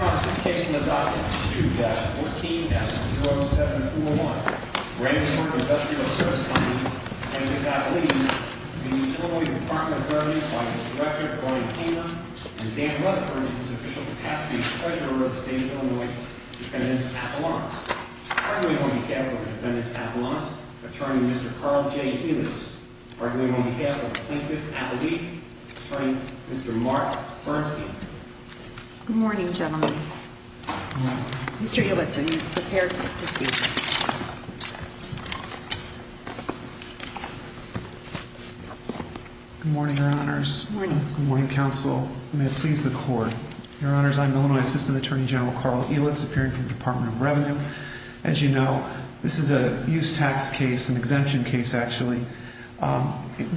This case is in the docket 2-14-0701, Brandenburg Industrial Service Company, Plaintiff Appellate. The Illinois Department of Veterans Finance Director, Lorraine Hamer, and Dan Rutherford, is the official capacity treasurer of the state of Illinois, Defendant's Appellants. I'm going to go on behalf of the Defendant's Appellants, Attorney Mr. Carl J. Elis. I'm going to go on behalf of the Plaintiff Appellate, Attorney Mr. Mark Bernstein. Good morning, gentlemen. Mr. Elis, are you prepared to speak? Good morning, Your Honors. Good morning, Counsel. May it please the Court. Your Honors, I'm Illinois Assistant Attorney General Carl Elis, appearing from the Department of Revenue. As you know, this is a use tax case, an exemption case actually,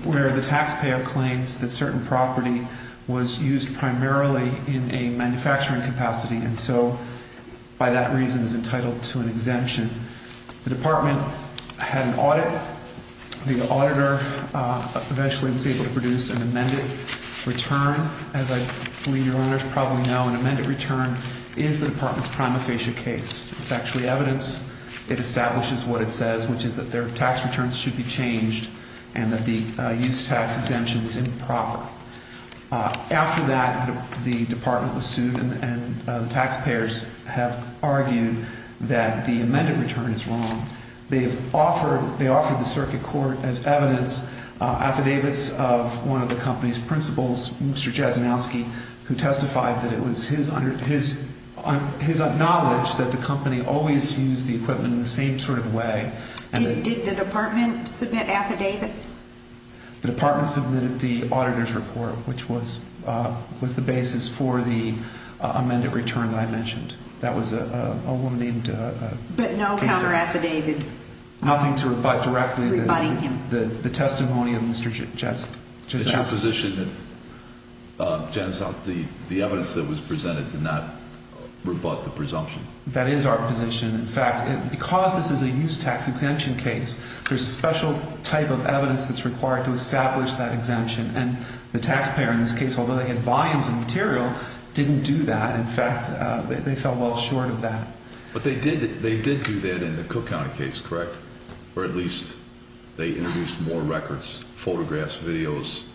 where the taxpayer claims that certain property was used primarily in a manufacturing capacity, and so by that reason is entitled to an exemption. The department had an audit. The auditor eventually was able to produce an amended return. As I believe Your Honors probably know, an amended return is the department's prima facie case. It's actually evidence. It establishes what it says, which is that their tax returns should be changed and that the use tax exemption was improper. After that, the department was sued and taxpayers have argued that the amended return is wrong. They offered the circuit court as evidence affidavits of one of the company's principals, Mr. Jasinowski, who testified that it was his knowledge that the company always used the equipment in the same sort of way. Did the department submit affidavits? The department submitted the auditor's report, which was the basis for the amended return that I mentioned. That was a woman named Kasie. But no counter affidavit? Nothing to rebut directly. Rebutting him. The testimony of Mr. Jasinowski. It's your position that the evidence that was presented did not rebut the presumption? That is our position. In fact, because this is a use tax exemption case, there's a special type of evidence that's required to establish that exemption. And the taxpayer in this case, although they had volumes of material, didn't do that. In fact, they fell well short of that. But they did do that in the Cook County case, correct? Or at least they introduced more records, photographs, videos.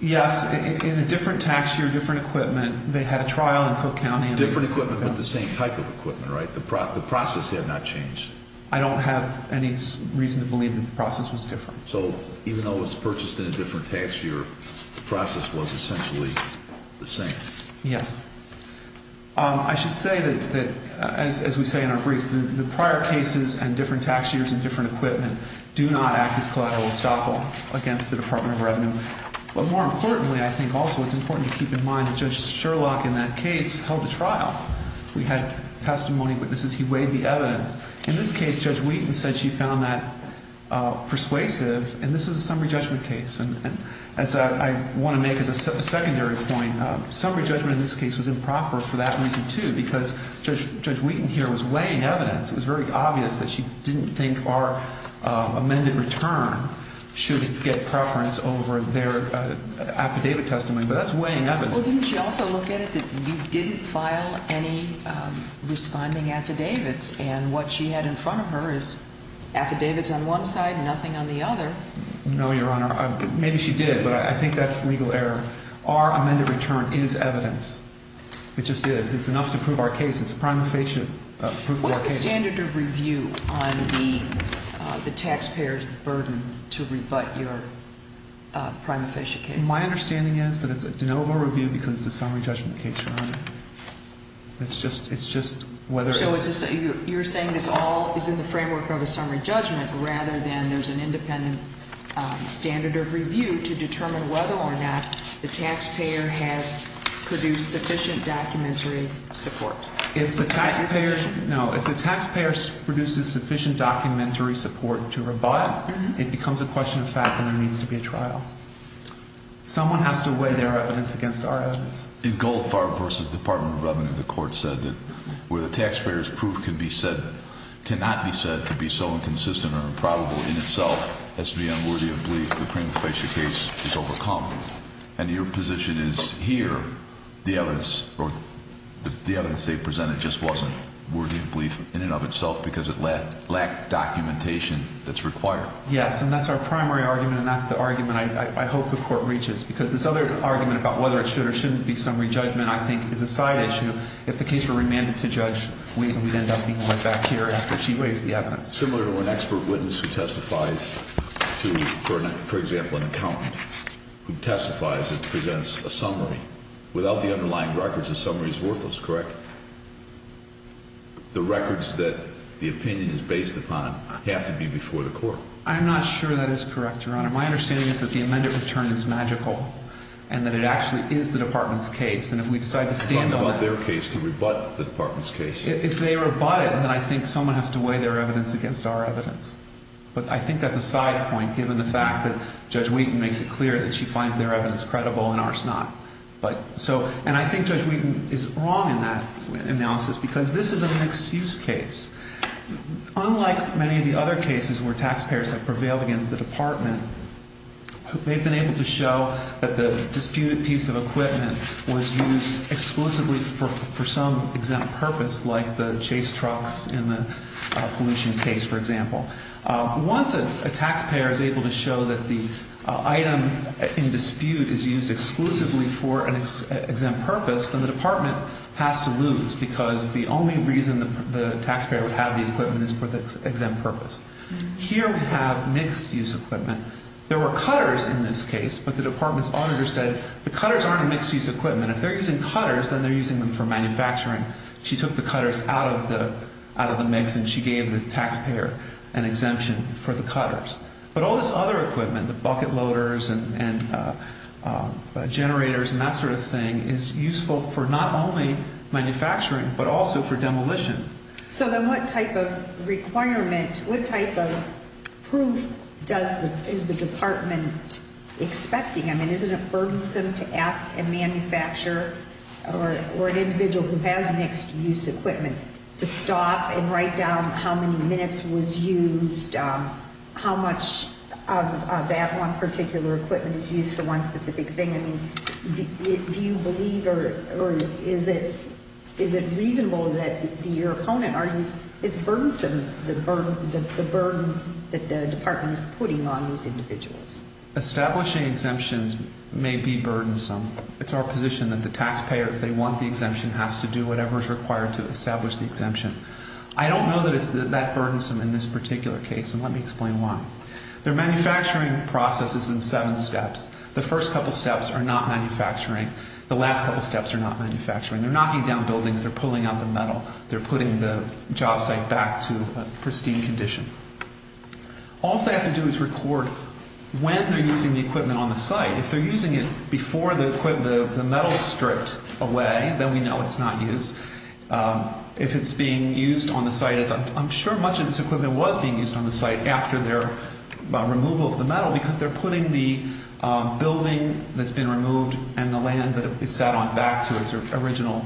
Yes, in a different tax year, different equipment. They had a trial in Cook County. Different equipment, but the same type of equipment, right? The process had not changed. I don't have any reason to believe that the process was different. So even though it was purchased in a different tax year, the process was essentially the same? Yes. I should say that, as we say in our briefs, the prior cases and different tax years and different equipment do not act as collateral estoppel against the Department of Revenue. But more importantly, I think also it's important to keep in mind that Judge Sherlock in that case held a trial. We had testimony witnesses. He weighed the evidence. In this case, Judge Wheaton said she found that persuasive. And this was a summary judgment case. And as I want to make as a secondary point, summary judgment in this case was improper for that reason, too, because Judge Wheaton here was weighing evidence. It was very obvious that she didn't think our amended return should get preference over their affidavit testimony. But that's weighing evidence. Well, didn't she also look at it that you didn't file any responding affidavits? And what she had in front of her is affidavits on one side, nothing on the other. No, Your Honor. Maybe she did, but I think that's legal error. Our amended return is evidence. It just is. It's enough to prove our case. It's a prima facie proof of our case. What's the standard of review on the taxpayer's burden to rebut your prima facie case? My understanding is that it's a de novo review because it's a summary judgment case, Your Honor. It's just whether it's – You're saying this all is in the framework of a summary judgment rather than there's an independent standard of review to determine whether or not the taxpayer has produced sufficient documentary support. Is that your position? No. If the taxpayer produces sufficient documentary support to rebut, it becomes a question of fact and there needs to be a trial. Someone has to weigh their evidence against our evidence. In Goldfarb v. Department of Revenue, the court said that where the taxpayer's proof cannot be said to be so inconsistent or improbable in itself as to be unworthy of belief, the prima facie case is overcome. And your position is here, the evidence they presented just wasn't worthy of belief in and of itself because it lacked documentation that's required. Yes, and that's our primary argument and that's the argument I hope the court reaches. Because this other argument about whether it should or shouldn't be summary judgment I think is a side issue. If the case were remanded to judge, we would end up being led back here after she weighs the evidence. Similar to an expert witness who testifies to, for example, an accountant who testifies and presents a summary. Without the underlying records, a summary is worthless, correct? The records that the opinion is based upon have to be before the court. I'm not sure that is correct, Your Honor. My understanding is that the amended return is magical and that it actually is the department's case. And if we decide to stand on it. Talking about their case, can we rebut the department's case? If they rebut it, then I think someone has to weigh their evidence against our evidence. But I think that's a side point given the fact that Judge Wheaton makes it clear that she finds their evidence credible and ours not. And I think Judge Wheaton is wrong in that analysis because this is a mixed-use case. Unlike many of the other cases where taxpayers have prevailed against the department, they've been able to show that the disputed piece of equipment was used exclusively for some exempt purpose, like the chase trucks in the pollution case, for example. Once a taxpayer is able to show that the item in dispute is used exclusively for an exempt purpose, then the department has to lose because the only reason the taxpayer would have the equipment is for the exempt purpose. Here we have mixed-use equipment. There were cutters in this case, but the department's auditor said the cutters aren't a mixed-use equipment. If they're using cutters, then they're using them for manufacturing. She took the cutters out of the mix and she gave the taxpayer an exemption for the cutters. But all this other equipment, the bucket loaders and generators and that sort of thing, is useful for not only manufacturing but also for demolition. So then what type of requirement, what type of proof is the department expecting? I mean, isn't it burdensome to ask a manufacturer or an individual who has mixed-use equipment to stop and write down how many minutes was used, how much of that one particular equipment is used for one specific thing? I mean, do you believe or is it reasonable that your opponent argues it's burdensome, the burden that the department is putting on these individuals? Establishing exemptions may be burdensome. It's our position that the taxpayer, if they want the exemption, has to do whatever is required to establish the exemption. I don't know that it's that burdensome in this particular case, and let me explain why. Their manufacturing process is in seven steps. The first couple steps are not manufacturing. The last couple steps are not manufacturing. They're knocking down buildings. They're pulling out the metal. They're putting the job site back to a pristine condition. All they have to do is record when they're using the equipment on the site. If they're using it before the metal is stripped away, then we know it's not used. If it's being used on the site, I'm sure much of this equipment was being used on the site after their removal of the metal because they're putting the building that's been removed and the land that it sat on back to its original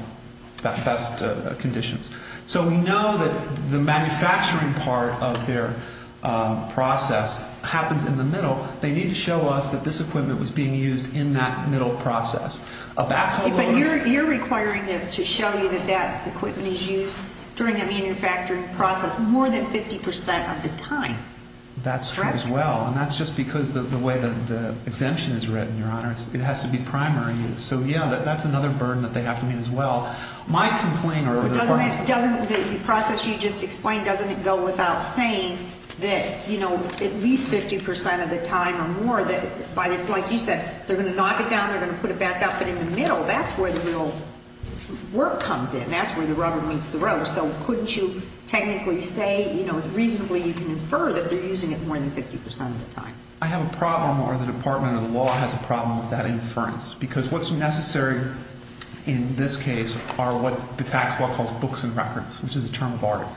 best conditions. So we know that the manufacturing part of their process happens in the middle. They need to show us that this equipment was being used in that middle process. But you're requiring them to show you that that equipment is used during the manufacturing process more than 50% of the time. That's true as well, and that's just because of the way the exemption is written, Your Honor. It has to be primary use. So, yeah, that's another burden that they have to meet as well. Doesn't the process you just explained, doesn't it go without saying that at least 50% of the time or more, like you said, they're going to knock it down, they're going to put it back up, but in the middle, that's where the real work comes in. That's where the rubber meets the road. So couldn't you technically say reasonably you can infer that they're using it more than 50% of the time? I have a problem or the Department of the Law has a problem with that inference because what's necessary in this case are what the tax law calls books and records, which is a term of art.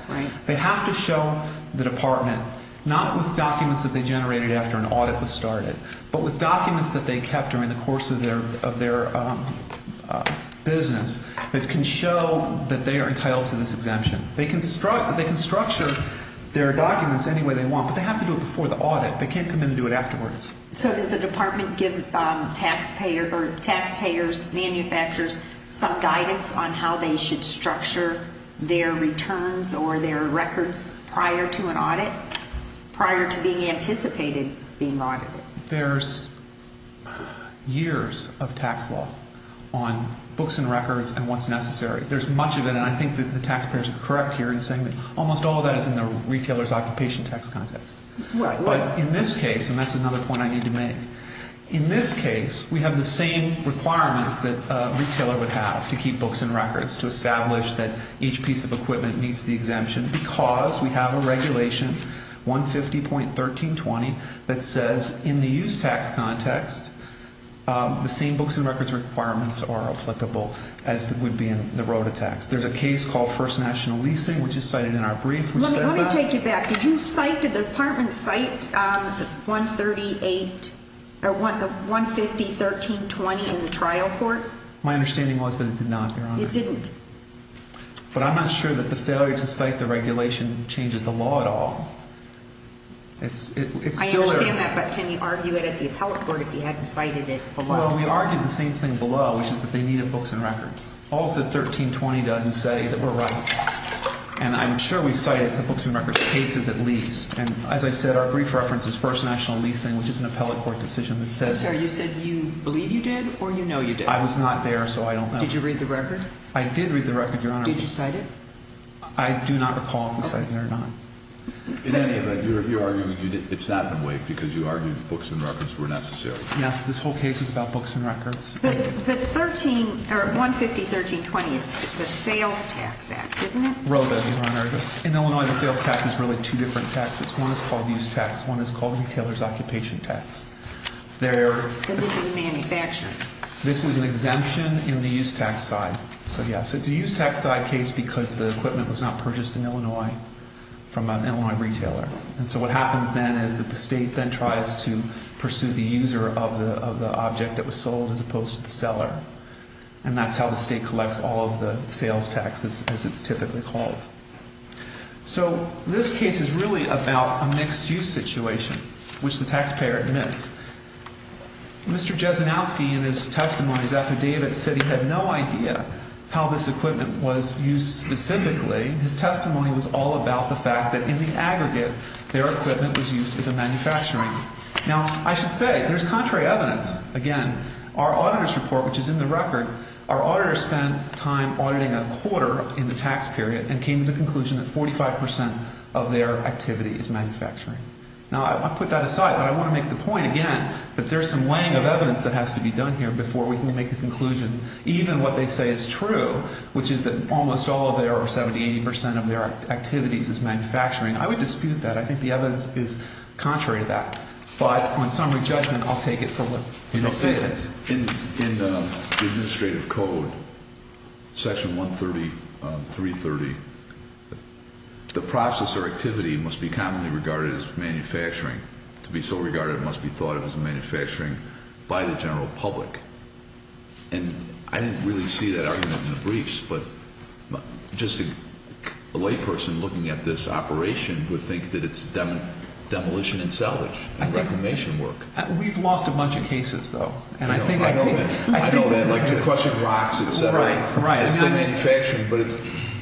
They have to show the department, not with documents that they generated after an audit was started, but with documents that they kept during the course of their business that can show that they are entitled to this exemption. They can structure their documents any way they want, but they have to do it before the audit. They can't come in and do it afterwards. So does the department give taxpayers, manufacturers some guidance on how they should structure their returns or their records prior to an audit, prior to being anticipated being audited? There's years of tax law on books and records and what's necessary. There's much of it, and I think that the taxpayers are correct here in saying that almost all of that is in the retailer's occupation tax context. But in this case, and that's another point I need to make, in this case, we have the same requirements that a retailer would have to keep books and records, to establish that each piece of equipment needs the exemption because we have a regulation, 150.1320, that says in the use tax context, the same books and records requirements are applicable as would be in the road tax. There's a case called First National Leasing, which is cited in our brief, which says that did you cite, did the department cite 150.1320 in the trial court? My understanding was that it did not, Your Honor. It didn't? But I'm not sure that the failure to cite the regulation changes the law at all. I understand that, but can you argue it at the appellate court if you hadn't cited it below? Well, we argued the same thing below, which is that they needed books and records. All that 1320 does is say that we're right, and I'm sure we cite it to books and records cases at least. And as I said, our brief reference is First National Leasing, which is an appellate court decision that says I'm sorry, you said you believe you did or you know you did? I was not there, so I don't know. Did you read the record? I did read the record, Your Honor. Did you cite it? I do not recall if we cited it or not. In any event, you're arguing it's not in wait because you argued books and records were necessary. Yes, this whole case is about books and records. But 150.1320 is the sales tax act, isn't it? I wrote that, Your Honor. In Illinois, the sales tax is really two different taxes. One is called use tax. One is called retailer's occupation tax. And this is manufacturing. This is an exemption in the use tax side. So, yes, it's a use tax side case because the equipment was not purchased in Illinois from an Illinois retailer. And so what happens then is that the state then tries to pursue the user of the object that was sold as opposed to the seller. And that's how the state collects all of the sales taxes as it's typically called. So this case is really about a mixed use situation, which the taxpayer admits. Mr. Jesenowski in his testimony's affidavit said he had no idea how this equipment was used specifically. His testimony was all about the fact that in the aggregate, their equipment was used as a manufacturing. Now, I should say there's contrary evidence. Again, our auditor's report, which is in the record, our auditor spent time auditing a quarter in the tax period and came to the conclusion that 45 percent of their activity is manufacturing. Now, I put that aside, but I want to make the point again that there's some weighing of evidence that has to be done here before we can make the conclusion even what they say is true, which is that almost all of their or 70, 80 percent of their activities is manufacturing. I would dispute that. I think the evidence is contrary to that. But on summary judgment, I'll take it for what they say it is. In the administrative code, section 130, 330, the process or activity must be commonly regarded as manufacturing. To be so regarded, it must be thought of as manufacturing by the general public. And I didn't really see that argument in the briefs, but just a layperson looking at this operation would think that it's demolition and salvage and reclamation work. We've lost a bunch of cases, though. I know that, like the question of rocks, et cetera. Right, right. But it's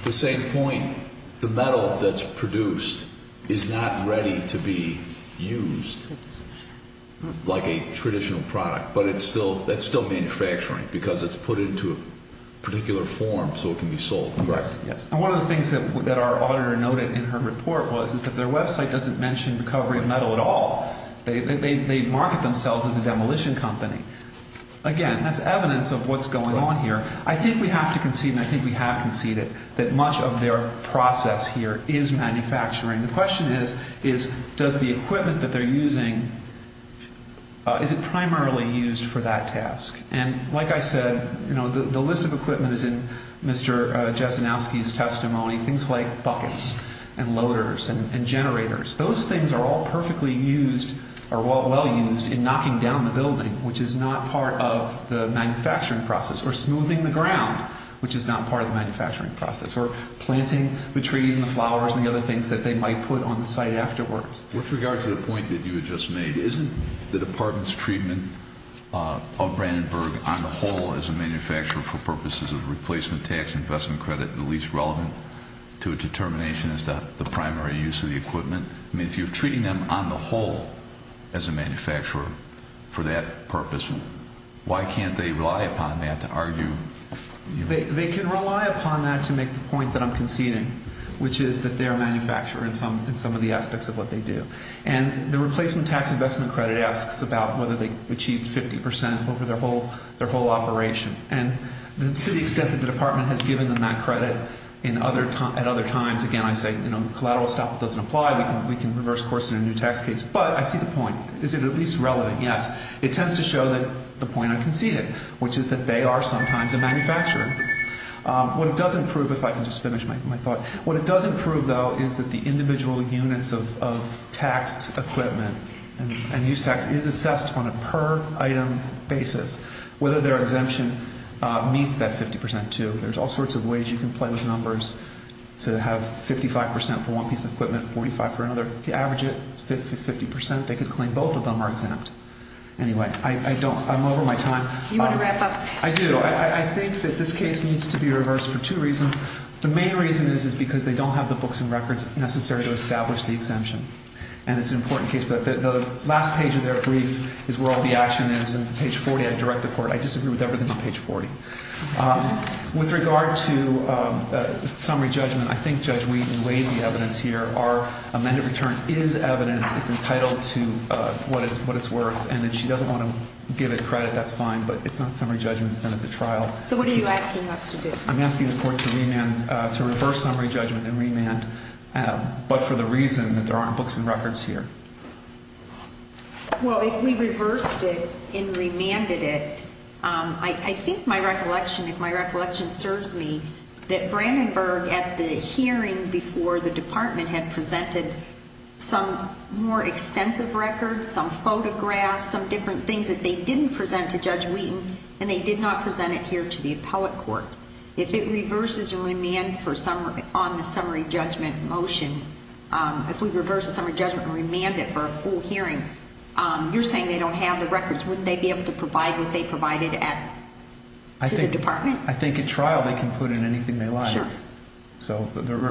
the same point. The metal that's produced is not ready to be used like a traditional product, but it's still manufacturing because it's put into a particular form so it can be sold. Yes, yes. And one of the things that our auditor noted in her report was that their website doesn't mention recovery of metal at all. They market themselves as a demolition company. Again, that's evidence of what's going on here. I think we have to concede, and I think we have conceded, that much of their process here is manufacturing. The question is, does the equipment that they're using, is it primarily used for that task? And like I said, the list of equipment is in Mr. Jesenowski's testimony, things like buckets and loaders and generators. Those things are all perfectly used or well used in knocking down the building, which is not part of the manufacturing process, or smoothing the ground, which is not part of the manufacturing process, or planting the trees and the flowers and the other things that they might put on the site afterwards. With regard to the point that you had just made, isn't the Department's treatment of Brandenburg on the whole as a manufacturer for purposes of replacement tax, investment credit, the least relevant to a determination as to the primary use of the equipment? I mean, if you're treating them on the whole as a manufacturer for that purpose, why can't they rely upon that to argue? They can rely upon that to make the point that I'm conceding, which is that they're a manufacturer in some of the aspects of what they do. And the replacement tax investment credit asks about whether they achieved 50 percent over their whole operation. And to the extent that the Department has given them that credit at other times, again, I say, you know, collateral stop doesn't apply. We can reverse course in a new tax case. But I see the point. Is it at least relevant? Yes. It tends to show that the point I conceded, which is that they are sometimes a manufacturer. What it doesn't prove, if I can just finish my thought, what it doesn't prove, though, is that the individual units of taxed equipment and use tax is assessed on a per-item basis, whether their exemption meets that 50 percent, too. There's all sorts of ways you can play with numbers to have 55 percent for one piece of equipment, 45 for another. If you average it, it's 50 percent. They could claim both of them are exempt. Anyway, I don't. I'm over my time. You want to wrap up? I do. I think that this case needs to be reversed for two reasons. The main reason is because they don't have the books and records necessary to establish the exemption. And it's an important case. But the last page of their brief is where all the action is. And page 40, I direct the Court. I disagree with everything on page 40. With regard to summary judgment, I think Judge Wheaton laid the evidence here. Our amended return is evidence. It's entitled to what it's worth. And if she doesn't want to give it credit, that's fine. But it's not summary judgment, and it's a trial. So what are you asking us to do? I'm asking the Court to reverse summary judgment and remand, but for the reason that there aren't books and records here. Well, if we reversed it and remanded it, I think my recollection, if my recollection serves me, that Brandenburg at the hearing before the Department had presented some more extensive records, some photographs, some different things that they didn't present to Judge Wheaton, and they did not present it here to the appellate court. If it reverses and remanded on the summary judgment motion, if we reverse the summary judgment and remand it for a full hearing, you're saying they don't have the records. Wouldn't they be able to provide what they provided to the Department? I think at trial they can put in anything they like. Sure. So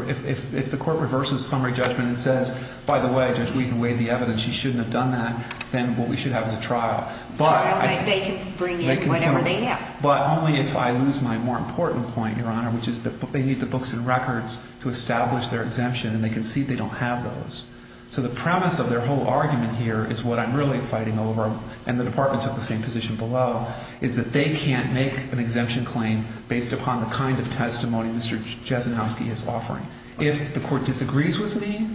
if the Court reverses summary judgment and says, by the way, Judge Wheaton laid the evidence, she shouldn't have done that, then what we should have is a trial. A trial that they can bring in whatever they have. But only if I lose my more important point, Your Honor, which is that they need the books and records to establish their exemption, and they concede they don't have those. So the premise of their whole argument here is what I'm really fighting over, and the Department took the same position below, is that they can't make an exemption claim based upon the kind of testimony Mr. Jesenowski is offering. If the Court disagrees with me,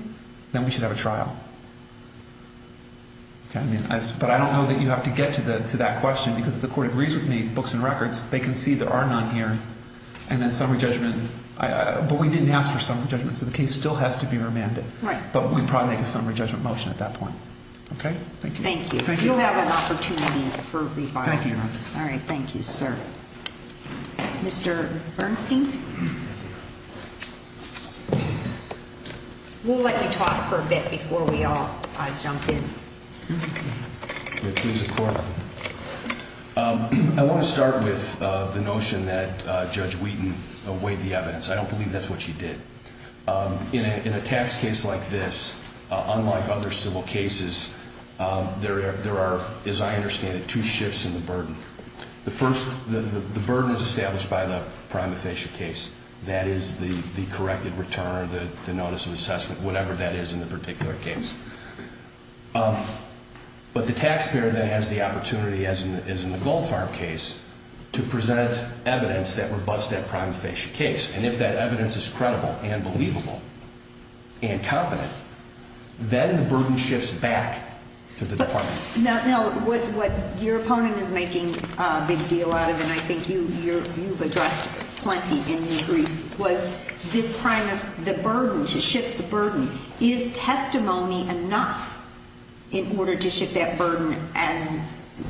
then we should have a trial. But I don't know that you have to get to that question, because if the Court agrees with me, books and records, they concede there are none here, and then summary judgment. But we didn't ask for summary judgment, so the case still has to be remanded. Right. But we'd probably make a summary judgment motion at that point. Okay? Thank you. Thank you. You'll have an opportunity for rebuttal. Thank you, Your Honor. All right, thank you, sir. Mr. Bernstein? We'll let you talk for a bit before we all jump in. Please, the Court. I want to start with the notion that Judge Wheaton weighed the evidence. I don't believe that's what she did. In a tax case like this, unlike other civil cases, there are, as I understand it, two shifts in the burden. The first, the burden is established by the prima facie case. That is the corrected return or the notice of assessment, whatever that is in the particular case. But the taxpayer then has the opportunity, as in the Gold Farm case, to present evidence that rebutts that prima facie case. And if that evidence is credible and believable and competent, then the burden shifts back to the department. Now, what your opponent is making a big deal out of, and I think you've addressed plenty in these briefs, was this crime of the burden, to shift the burden. Is testimony enough in order to shift that burden, as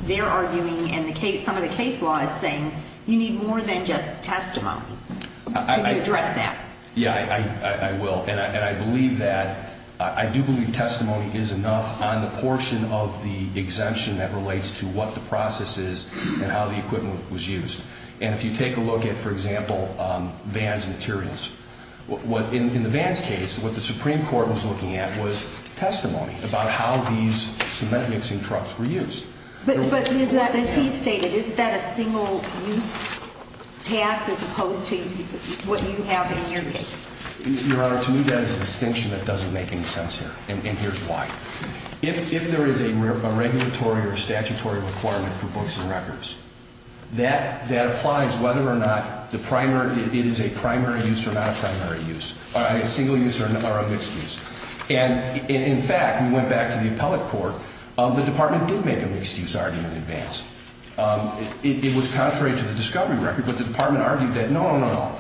they're arguing and some of the case law is saying, you need more than just testimony. Can you address that? Yeah, I will. And I believe that. I do believe testimony is enough on the portion of the exemption that relates to what the process is and how the equipment was used. And if you take a look at, for example, Vans materials, in the Vans case, what the Supreme Court was looking at was testimony about how these cement mixing trucks were used. But is that, as he stated, is that a single-use tax as opposed to what you have in your case? Your Honor, to me that is a distinction that doesn't make any sense here, and here's why. If there is a regulatory or statutory requirement for books and records, that applies whether or not it is a primary use or not a primary use, a single use or a mixed use. And in fact, we went back to the appellate court, the department did make a mixed use argument in Vans. It was contrary to the discovery record, but the department argued that, no, no, no, no.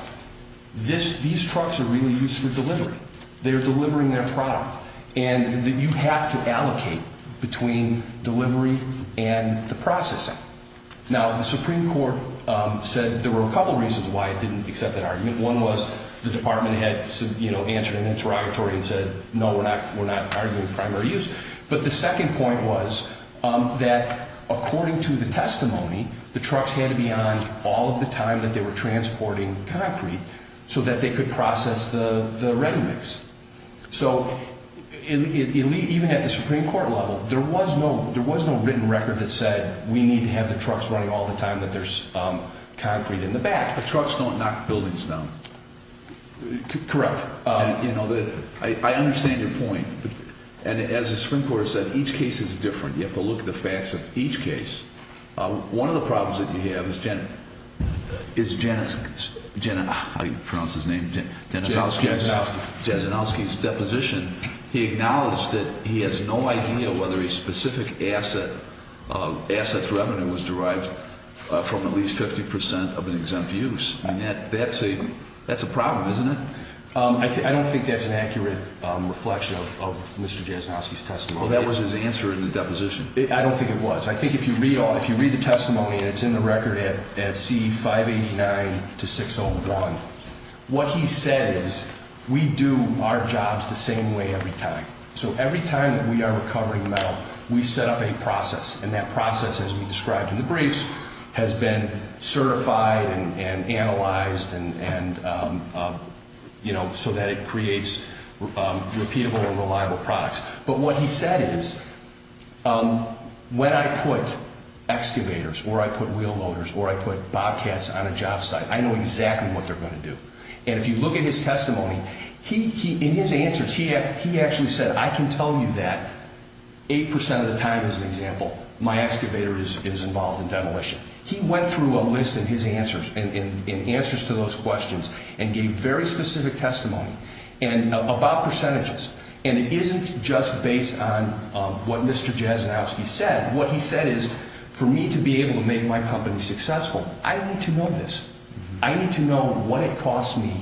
These trucks are really used for delivery. They are delivering their product. And you have to allocate between delivery and the processing. Now, the Supreme Court said there were a couple reasons why it didn't accept that argument. One was the department had answered an interrogatory and said, no, we're not arguing primary use. But the second point was that, according to the testimony, the trucks had to be on all of the time that they were transporting concrete so that they could process the ready mix. So even at the Supreme Court level, there was no written record that said we need to have the trucks running all the time that there's concrete in the back. But trucks don't knock buildings down. Correct. I understand your point. And as the Supreme Court said, each case is different. You have to look at the facts of each case. One of the problems that you have is Janet's, I pronounce his name, Jasenowski's deposition. He acknowledged that he has no idea whether a specific asset's revenue was derived from at least 50% of an exempt use. That's a problem, isn't it? I don't think that's an accurate reflection of Mr. Jasenowski's testimony. Well, that was his answer in the deposition. I don't think it was. I think if you read the testimony, and it's in the record at C589-601, what he said is we do our jobs the same way every time. So every time that we are recovering metal, we set up a process, and that process, as we described in the briefs, has been certified and analyzed so that it creates repeatable and reliable products. But what he said is when I put excavators or I put wheel loaders or I put bobcats on a job site, I know exactly what they're going to do. And if you look at his testimony, in his answers, he actually said, I can tell you that 8% of the time, as an example, my excavator is involved in demolition. He went through a list in his answers and answers to those questions and gave very specific testimony about percentages. And it isn't just based on what Mr. Jasenowski said. What he said is for me to be able to make my company successful, I need to know this. I need to know what it costs me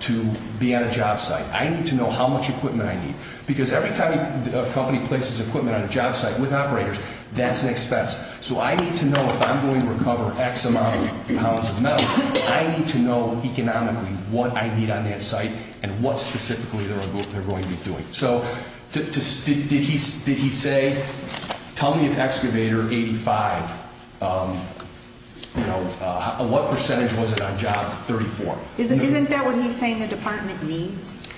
to be at a job site. I need to know how much equipment I need. Because every time a company places equipment on a job site with operators, that's an expense. So I need to know if I'm going to recover X amount of pounds of metal, I need to know economically what I need on that site and what specifically they're going to be doing. So did he say, tell me if excavator 85, what percentage was it on job 34? Isn't that what he's saying the department needs?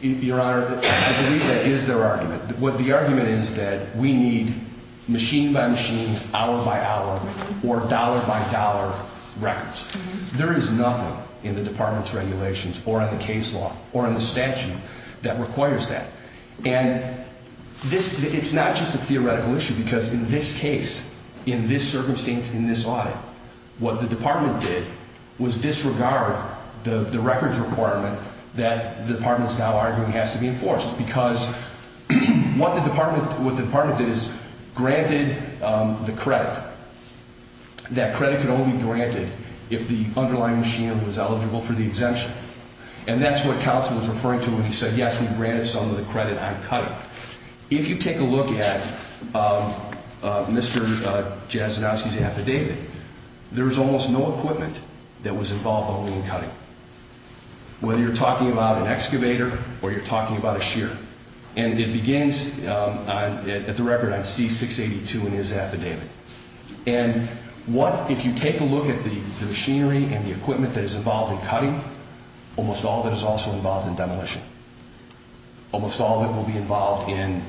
Your Honor, I believe that is their argument. What the argument is that we need machine-by-machine, hour-by-hour, or dollar-by-dollar records. There is nothing in the department's regulations or in the case law or in the statute that requires that. And it's not just a theoretical issue because in this case, in this circumstance, in this audit, what the department did was disregard the records requirement that the department is now arguing has to be enforced. Because what the department did is granted the credit. That credit could only be granted if the underlying machine was eligible for the exemption. And that's what counsel was referring to when he said, yes, we granted some of the credit on cutting. Now, if you take a look at Mr. Jasinowski's affidavit, there is almost no equipment that was involved only in cutting. Whether you're talking about an excavator or you're talking about a shearer. And it begins at the record on C-682 in his affidavit. And if you take a look at the machinery and the equipment that is involved in cutting, almost all of it is also involved in demolition. Almost all of it will be involved in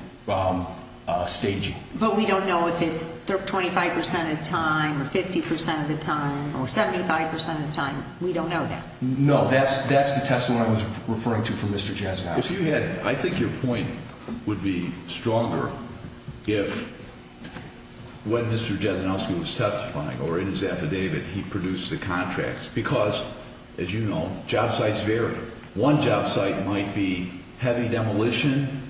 staging. But we don't know if it's 25% of the time or 50% of the time or 75% of the time. We don't know that. No, that's the testimony I was referring to from Mr. Jasinowski. I think your point would be stronger if when Mr. Jasinowski was testifying or in his affidavit, he produced the contracts. Because, as you know, job sites vary. One job site might be heavy demolition,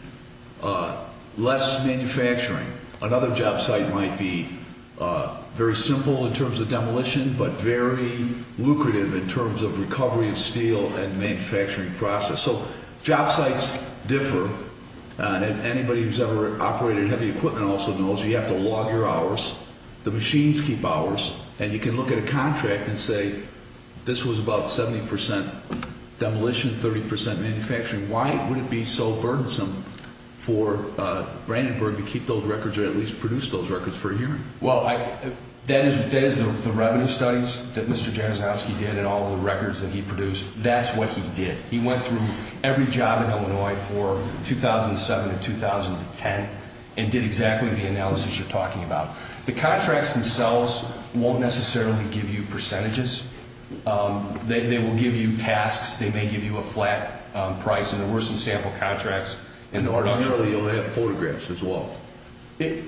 less manufacturing. Another job site might be very simple in terms of demolition but very lucrative in terms of recovery of steel and manufacturing process. So job sites differ. And anybody who's ever operated heavy equipment also knows you have to log your hours. The machines keep hours. And you can look at a contract and say this was about 70% demolition, 30% manufacturing. Why would it be so burdensome for Brandenburg to keep those records or at least produce those records for a hearing? Well, that is the revenue studies that Mr. Jasinowski did and all of the records that he produced. That's what he did. He went through every job in Illinois for 2007 to 2010 and did exactly the analysis you're talking about. The contracts themselves won't necessarily give you percentages. They will give you tasks. They may give you a flat price. And there were some sample contracts. Or actually you'll have photographs as well. In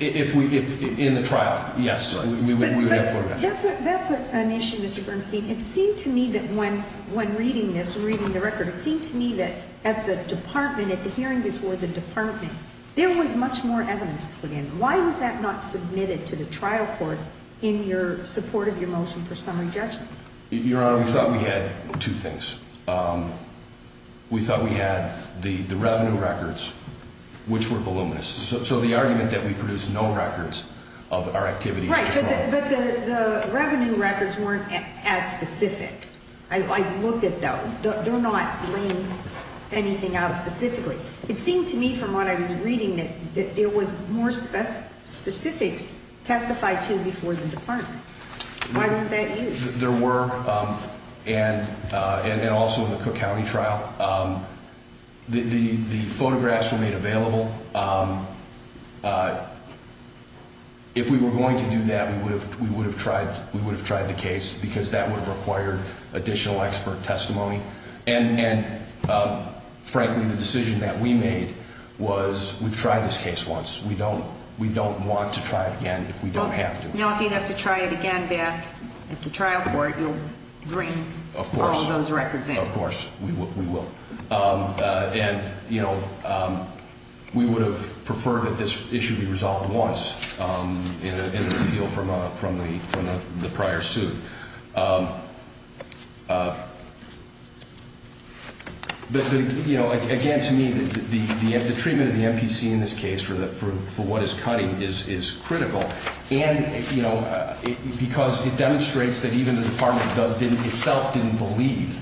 the trial, yes, we would have photographs. That's an issue, Mr. Bernstein. It seemed to me that when reading this, reading the record, it seemed to me that at the department, at the hearing before the department, there was much more evidence put in. Why was that not submitted to the trial court in your support of your motion for summary judgment? Your Honor, we thought we had two things. We thought we had the revenue records, which were voluminous. So the argument that we produced no records of our activities was wrong. Right, but the revenue records weren't as specific. I looked at those. They're not laying anything out specifically. It seemed to me from what I was reading that there was more specifics testified to before the department. Why wasn't that used? There were, and also in the Cook County trial. The photographs were made available. If we were going to do that, we would have tried the case because that would have required additional expert testimony. And, frankly, the decision that we made was we've tried this case once. We don't want to try it again if we don't have to. Okay. Now, if you have to try it again back at the trial court, you'll bring all those records in. Of course. We will. And, you know, we would have preferred that this issue be resolved once in an appeal from the prior suit. But, you know, again, to me, the treatment of the MPC in this case for what is cutting is critical. And, you know, because it demonstrates that even the department itself didn't believe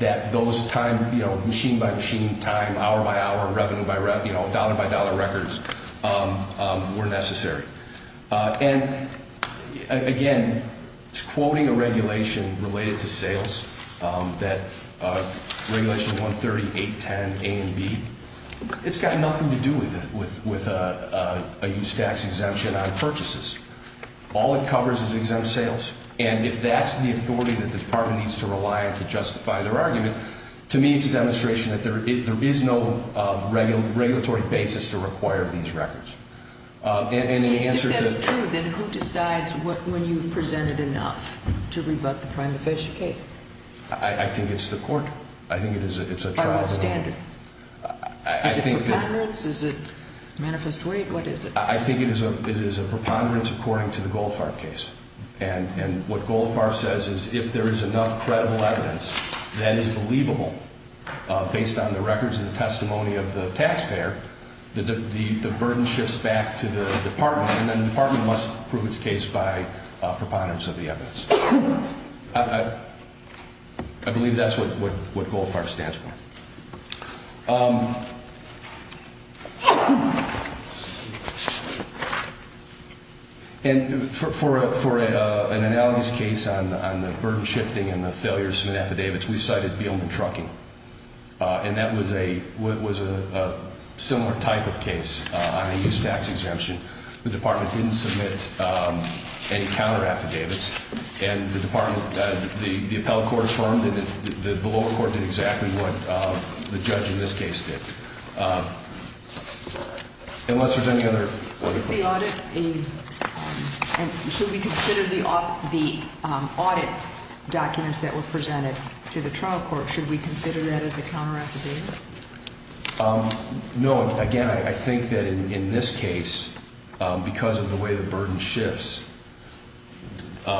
that those time, you know, machine-by-machine time, hour-by-hour, revenue-by-revenue, you know, dollar-by-dollar records were necessary. And, again, quoting a regulation related to sales that regulation 130.810 A and B, it's got nothing to do with a use tax exemption on purchases. All it covers is exempt sales. And if that's the authority that the department needs to rely on to justify their argument, to me it's a demonstration that there is no regulatory basis to require these records. If that is true, then who decides when you've presented enough to rebut the prima facie case? I think it's the court. I think it's a trial. By what standard? Is it preponderance? Is it manifest weight? What is it? I think it is a preponderance according to the Goldfarb case. And what Goldfarb says is if there is enough credible evidence that is believable based on the records and the testimony of the taxpayer, the burden shifts back to the department, and then the department must prove its case by preponderance of the evidence. I believe that's what Goldfarb stands for. And for an analogous case on the burden shifting and the failure to submit affidavits, we cited Beelman Trucking. And that was a similar type of case on a use tax exemption. The department didn't submit any counter affidavits, and the appellate court affirmed it. The lower court did exactly what the judge in this case did. Should we consider the audit documents that were presented to the trial court, should we consider that as a counter affidavit? No. Again, I think that in this case, because of the way the burden shifts, there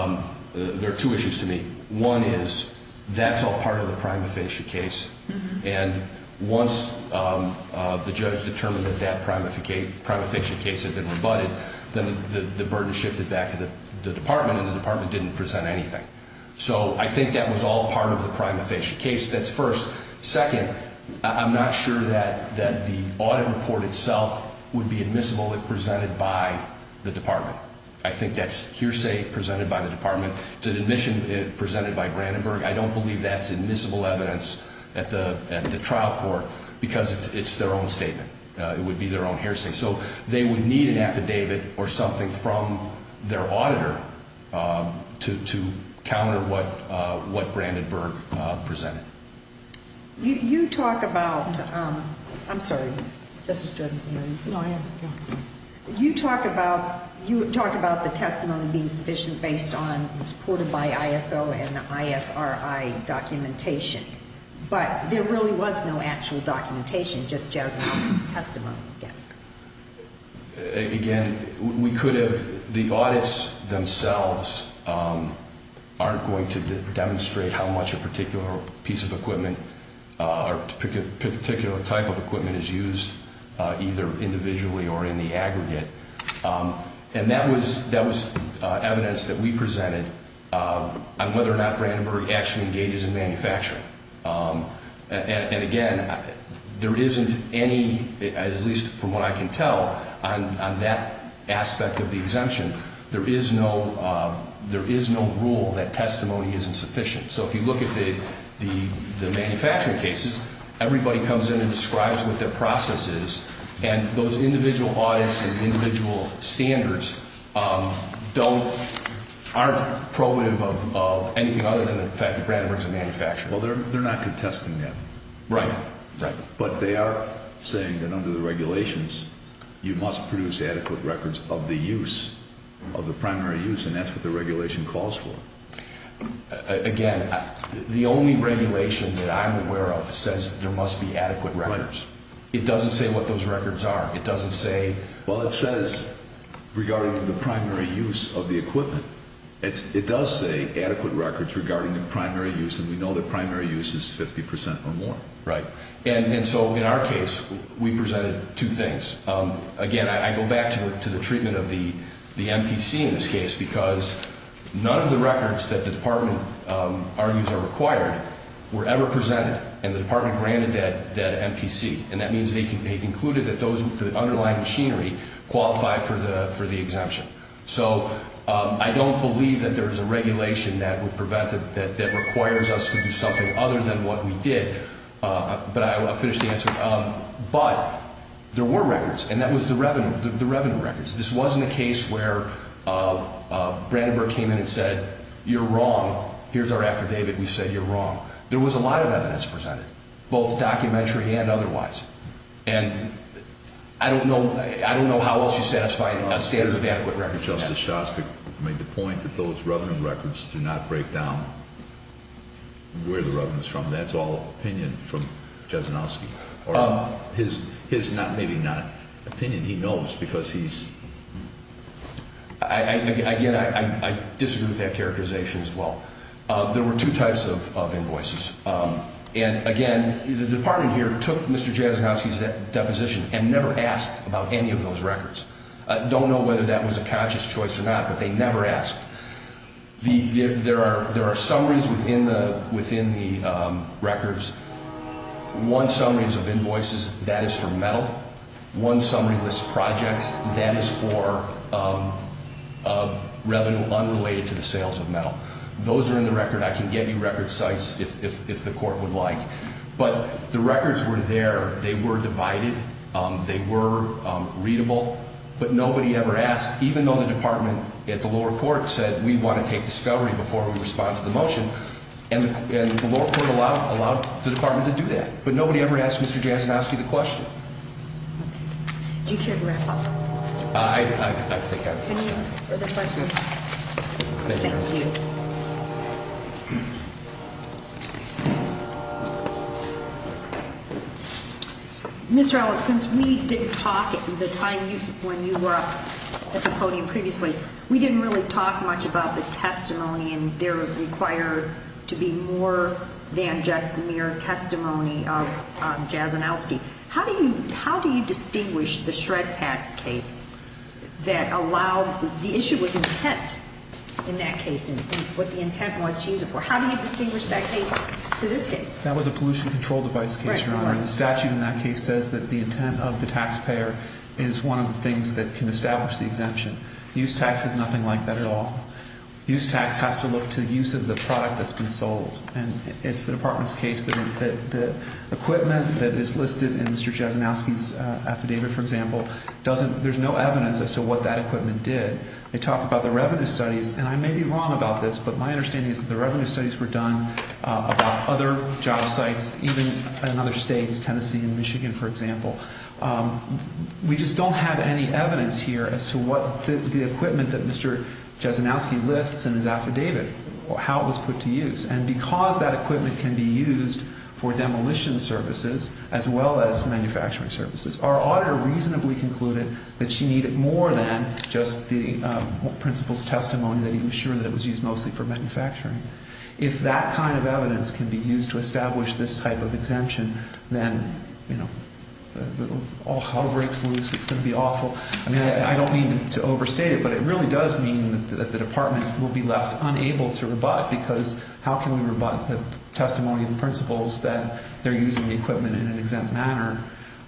are two issues to me. One is that's all part of the prima facie case, and once the judge determined that that prima facie case had been rebutted, then the burden shifted back to the department, and the department didn't present anything. So I think that was all part of the prima facie case. That's first. Second, I'm not sure that the audit report itself would be admissible if presented by the department. I think that's hearsay presented by the department. It's an admission presented by Brandenburg. I don't believe that's admissible evidence at the trial court because it's their own statement. It would be their own hearsay. So they would need an affidavit or something from their auditor to counter what Brandenburg presented. You talk about the testimony being sufficient based on supported by ISO and ISRI documentation, but there really was no actual documentation. Just Jessee Wilson's testimony. Again, we could have the audits themselves aren't going to demonstrate how much a particular piece of equipment or particular type of equipment is used, either individually or in the aggregate, and that was evidence that we presented on whether or not Brandenburg actually engages in manufacturing. And, again, there isn't any, at least from what I can tell, on that aspect of the exemption, there is no rule that testimony isn't sufficient. So if you look at the manufacturing cases, everybody comes in and describes what their process is, and those individual audits and individual standards aren't probative of anything other than the fact that Brandenburg is a manufacturer. Well, they're not contesting that. Right. But they are saying that under the regulations you must produce adequate records of the use, of the primary use, and that's what the regulation calls for. Again, the only regulation that I'm aware of says there must be adequate records. It doesn't say what those records are. It doesn't say. Well, it says regarding the primary use of the equipment. It does say adequate records regarding the primary use, and we know that primary use is 50% or more. Right. And so in our case, we presented two things. Again, I go back to the treatment of the MPC in this case because none of the records that the department argues are required were ever presented, and the department granted that MPC, and that means they concluded that the underlying machinery qualified for the exemption. So I don't believe that there is a regulation that requires us to do something other than what we did, but I'll finish the answer. But there were records, and that was the revenue records. This wasn't a case where Brandenburg came in and said, you're wrong. Here's our affidavit. We said you're wrong. There was a lot of evidence presented, both documentary and otherwise, and I don't know how else you satisfy a standard of adequate records. Justice Shostak made the point that those revenue records do not break down where the revenue is from. That's all opinion from Jesenowski, or his maybe not opinion. He knows because he's ‑‑ Again, I disagree with that characterization as well. There were two types of invoices, and again, the department here took Mr. Jesenowski's deposition and never asked about any of those records. I don't know whether that was a conscious choice or not, but they never asked. There are summaries within the records. One summary is of invoices. That is for metal. One summary lists projects. That is for revenue unrelated to the sales of metal. Those are in the record. I can give you record sites if the court would like. But the records were there. They were divided. They were readable. But nobody ever asked, even though the department at the lower court said we want to take discovery before we respond to the motion. And the lower court allowed the department to do that. But nobody ever asked Mr. Jesenowski the question. Do you care to wrap up? I think I've answered. Any further questions? Thank you. Mr. Alex, since we didn't talk at the time when you were up at the podium previously, we didn't really talk much about the testimony, and there required to be more than just the mere testimony of Jesenowski. How do you distinguish the ShredPax case that allowed the issue was intent in that case and what the intent was to use it for? How do you distinguish that case to this case? That was a pollution control device case, Your Honor. The statute in that case says that the intent of the taxpayer is one of the things that can establish the exemption. Use tax is nothing like that at all. Use tax has to look to use of the product that's been sold. And it's the department's case that the equipment that is listed in Mr. Jesenowski's affidavit, for example, there's no evidence as to what that equipment did. They talk about the revenue studies, and I may be wrong about this, but my understanding is that the revenue studies were done about other job sites, even in other states, Tennessee and Michigan, for example. We just don't have any evidence here as to what the equipment that Mr. Jesenowski lists in his affidavit, how it was put to use. And because that equipment can be used for demolition services as well as manufacturing services, our auditor reasonably concluded that she needed more than just the principal's testimony that he was sure that it was used mostly for manufacturing. If that kind of evidence can be used to establish this type of exemption, then, you know, all hell breaks loose. It's going to be awful. I mean, I don't mean to overstate it, but it really does mean that the department will be left unable to rebut, because how can we rebut the testimony of the principals that they're using the equipment in an exempt manner?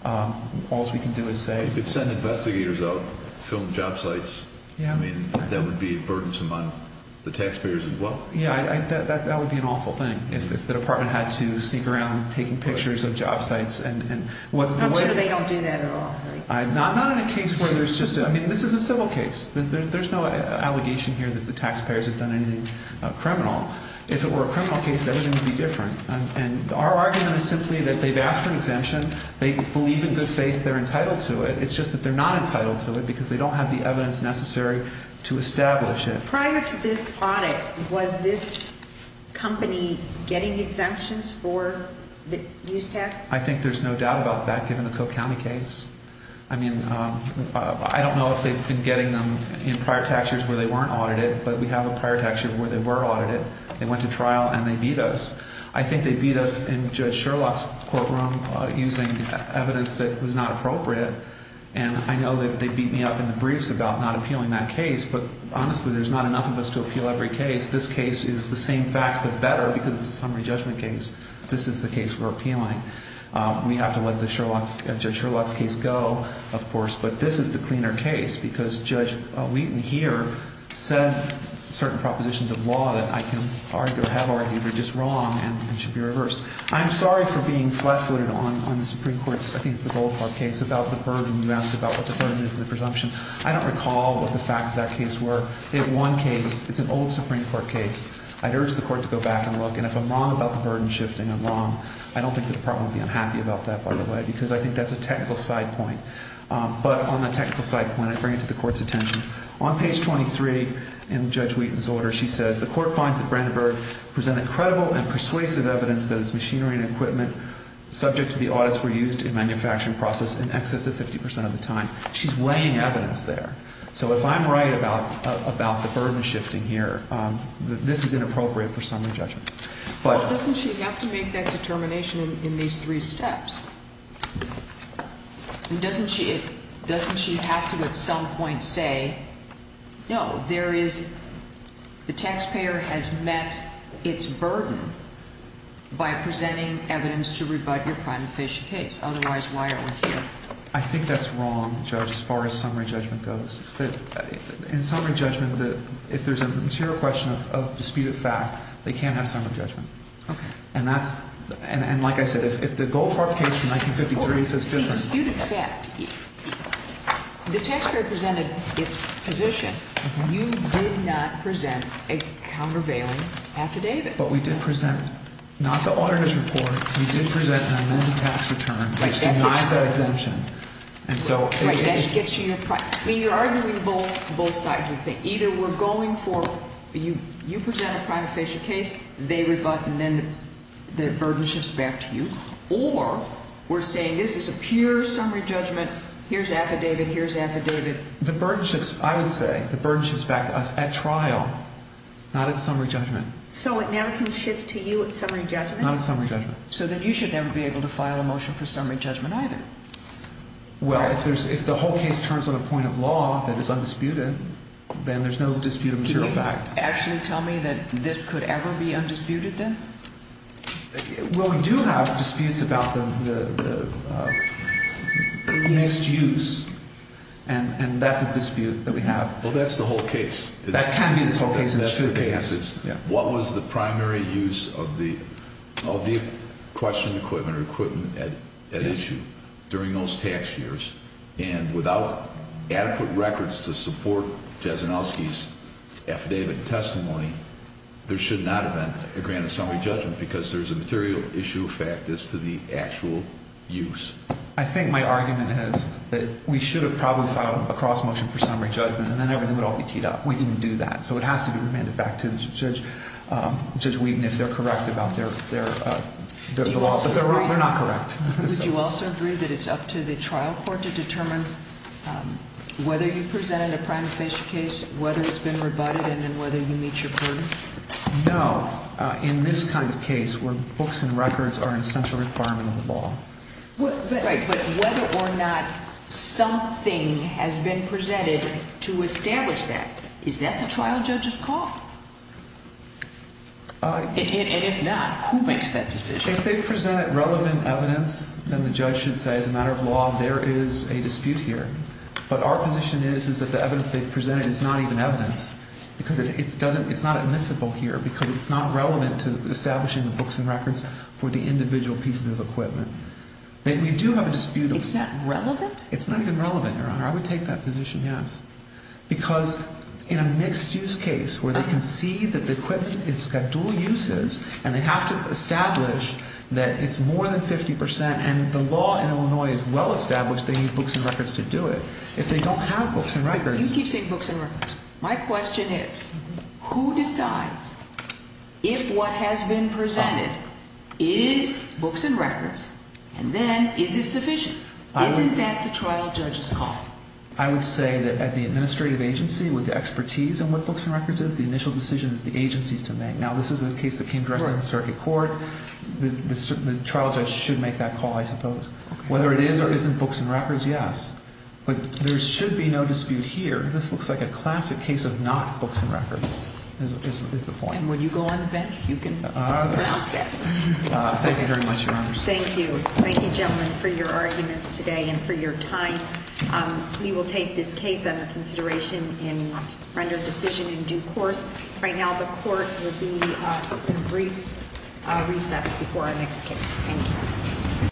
All we can do is say- You could send investigators out, film job sites. I mean, that would be burdensome on the taxpayers as well. Yeah, that would be an awful thing if the department had to sneak around taking pictures of job sites. I'm sure they don't do that at all. Not in a case where there's just a- I mean, this is a civil case. There's no allegation here that the taxpayers have done anything criminal. If it were a criminal case, everything would be different. And our argument is simply that they've asked for an exemption. They believe in good faith they're entitled to it. It's just that they're not entitled to it because they don't have the evidence necessary to establish it. Prior to this audit, was this company getting exemptions for the use tax? I think there's no doubt about that given the Cook County case. I mean, I don't know if they've been getting them in prior tax years where they weren't audited, but we have a prior tax year where they were audited. They went to trial and they beat us. I think they beat us in Judge Sherlock's courtroom using evidence that was not appropriate. And I know that they beat me up in the briefs about not appealing that case, but honestly, there's not enough of us to appeal every case. This case is the same facts but better because it's a summary judgment case. This is the case we're appealing. We have to let Judge Sherlock's case go, of course, but this is the cleaner case because Judge Wheaton here said certain propositions of law that I can argue or have argued are just wrong and should be reversed. I'm sorry for being flat-footed on the Supreme Court's, I think it's the Goldfarb case, about the burden. You asked about what the burden is in the presumption. I don't recall what the facts of that case were. In one case, it's an old Supreme Court case. I'd urge the Court to go back and look, and if I'm wrong about the burden shifting, I'm wrong. I don't think the Department would be unhappy about that, by the way, because I think that's a technical side point. But on the technical side point, I bring it to the Court's attention. On page 23 in Judge Wheaton's order, she says, The Court finds that Brandenburg presented credible and persuasive evidence that its machinery and equipment subject to the audits were used in manufacturing process in excess of 50% of the time. She's weighing evidence there. So if I'm right about the burden shifting here, this is inappropriate for summary judgment. Doesn't she have to make that determination in these three steps? Doesn't she have to at some point say, no, there is, the taxpayer has met its burden by presenting evidence to rebut your crime efficient case. Otherwise, why are we here? I think that's wrong, Judge, as far as summary judgment goes. In summary judgment, if there's a material question of disputed fact, they can't have summary judgment. Okay. And that's, and like I said, if the Goldfarb case from 1953 says different. See, disputed fact. The taxpayer presented its position. You did not present a countervailing affidavit. But we did present not the auditors report. You did present an amended tax return, which denies that exemption. Right, that gets you your, I mean, you're arguing both sides of the thing. Either we're going for, you present a crime efficient case, they rebut, and then the burden shifts back to you. Or we're saying this is a pure summary judgment, here's affidavit, here's affidavit. The burden shifts, I would say, the burden shifts back to us at trial, not at summary judgment. So it now can shift to you at summary judgment? Not at summary judgment. So then you should never be able to file a motion for summary judgment either. Well, if there's, if the whole case turns on a point of law that is undisputed, then there's no dispute of material fact. Can you actually tell me that this could ever be undisputed then? Well, we do have disputes about the mixed use, and that's a dispute that we have. Well, that's the whole case. That can be the whole case, and it should be. What was the primary use of the questioned equipment or equipment at issue during those tax years? And without adequate records to support Jasonowski's affidavit and testimony, there should not have been a grant of summary judgment because there's a material issue of fact as to the actual use. I think my argument is that we should have probably filed a cross motion for summary judgment, and then everything would all be teed up. We didn't do that. So it has to be remanded back to Judge Wheaton if they're correct about their law. But they're not correct. Would you also agree that it's up to the trial court to determine whether you presented a prima facie case, whether it's been rebutted, and then whether you meet your burden? No. In this kind of case where books and records are an essential requirement of the law. Right, but whether or not something has been presented to establish that, is that the trial judge's call? And if not, who makes that decision? If they've presented relevant evidence, then the judge should say, as a matter of law, there is a dispute here. But our position is that the evidence they've presented is not even evidence because it's not admissible here because it's not relevant to establishing the books and records for the individual pieces of equipment. We do have a dispute. It's not relevant? It's not even relevant, Your Honor. I would take that position, yes. Because in a mixed use case where they can see that the equipment has got dual uses, and they have to establish that it's more than 50%, and the law in Illinois is well established, they need books and records to do it. If they don't have books and records. You keep saying books and records. My question is, who decides if what has been presented is books and records, and then is it sufficient? Isn't that the trial judge's call? I would say that at the administrative agency, with the expertise on what books and records is, the initial decision is the agency's to make. Now, this is a case that came directly to the circuit court. The trial judge should make that call, I suppose. Whether it is or isn't books and records, yes. But there should be no dispute here. This looks like a classic case of not books and records, is the point. And when you go on the bench, you can pronounce it. Thank you very much, Your Honor. Thank you. Thank you, gentlemen, for your arguments today and for your time. We will take this case under consideration and render a decision in due course. Right now, the court will be in brief recess before our next case. Thank you.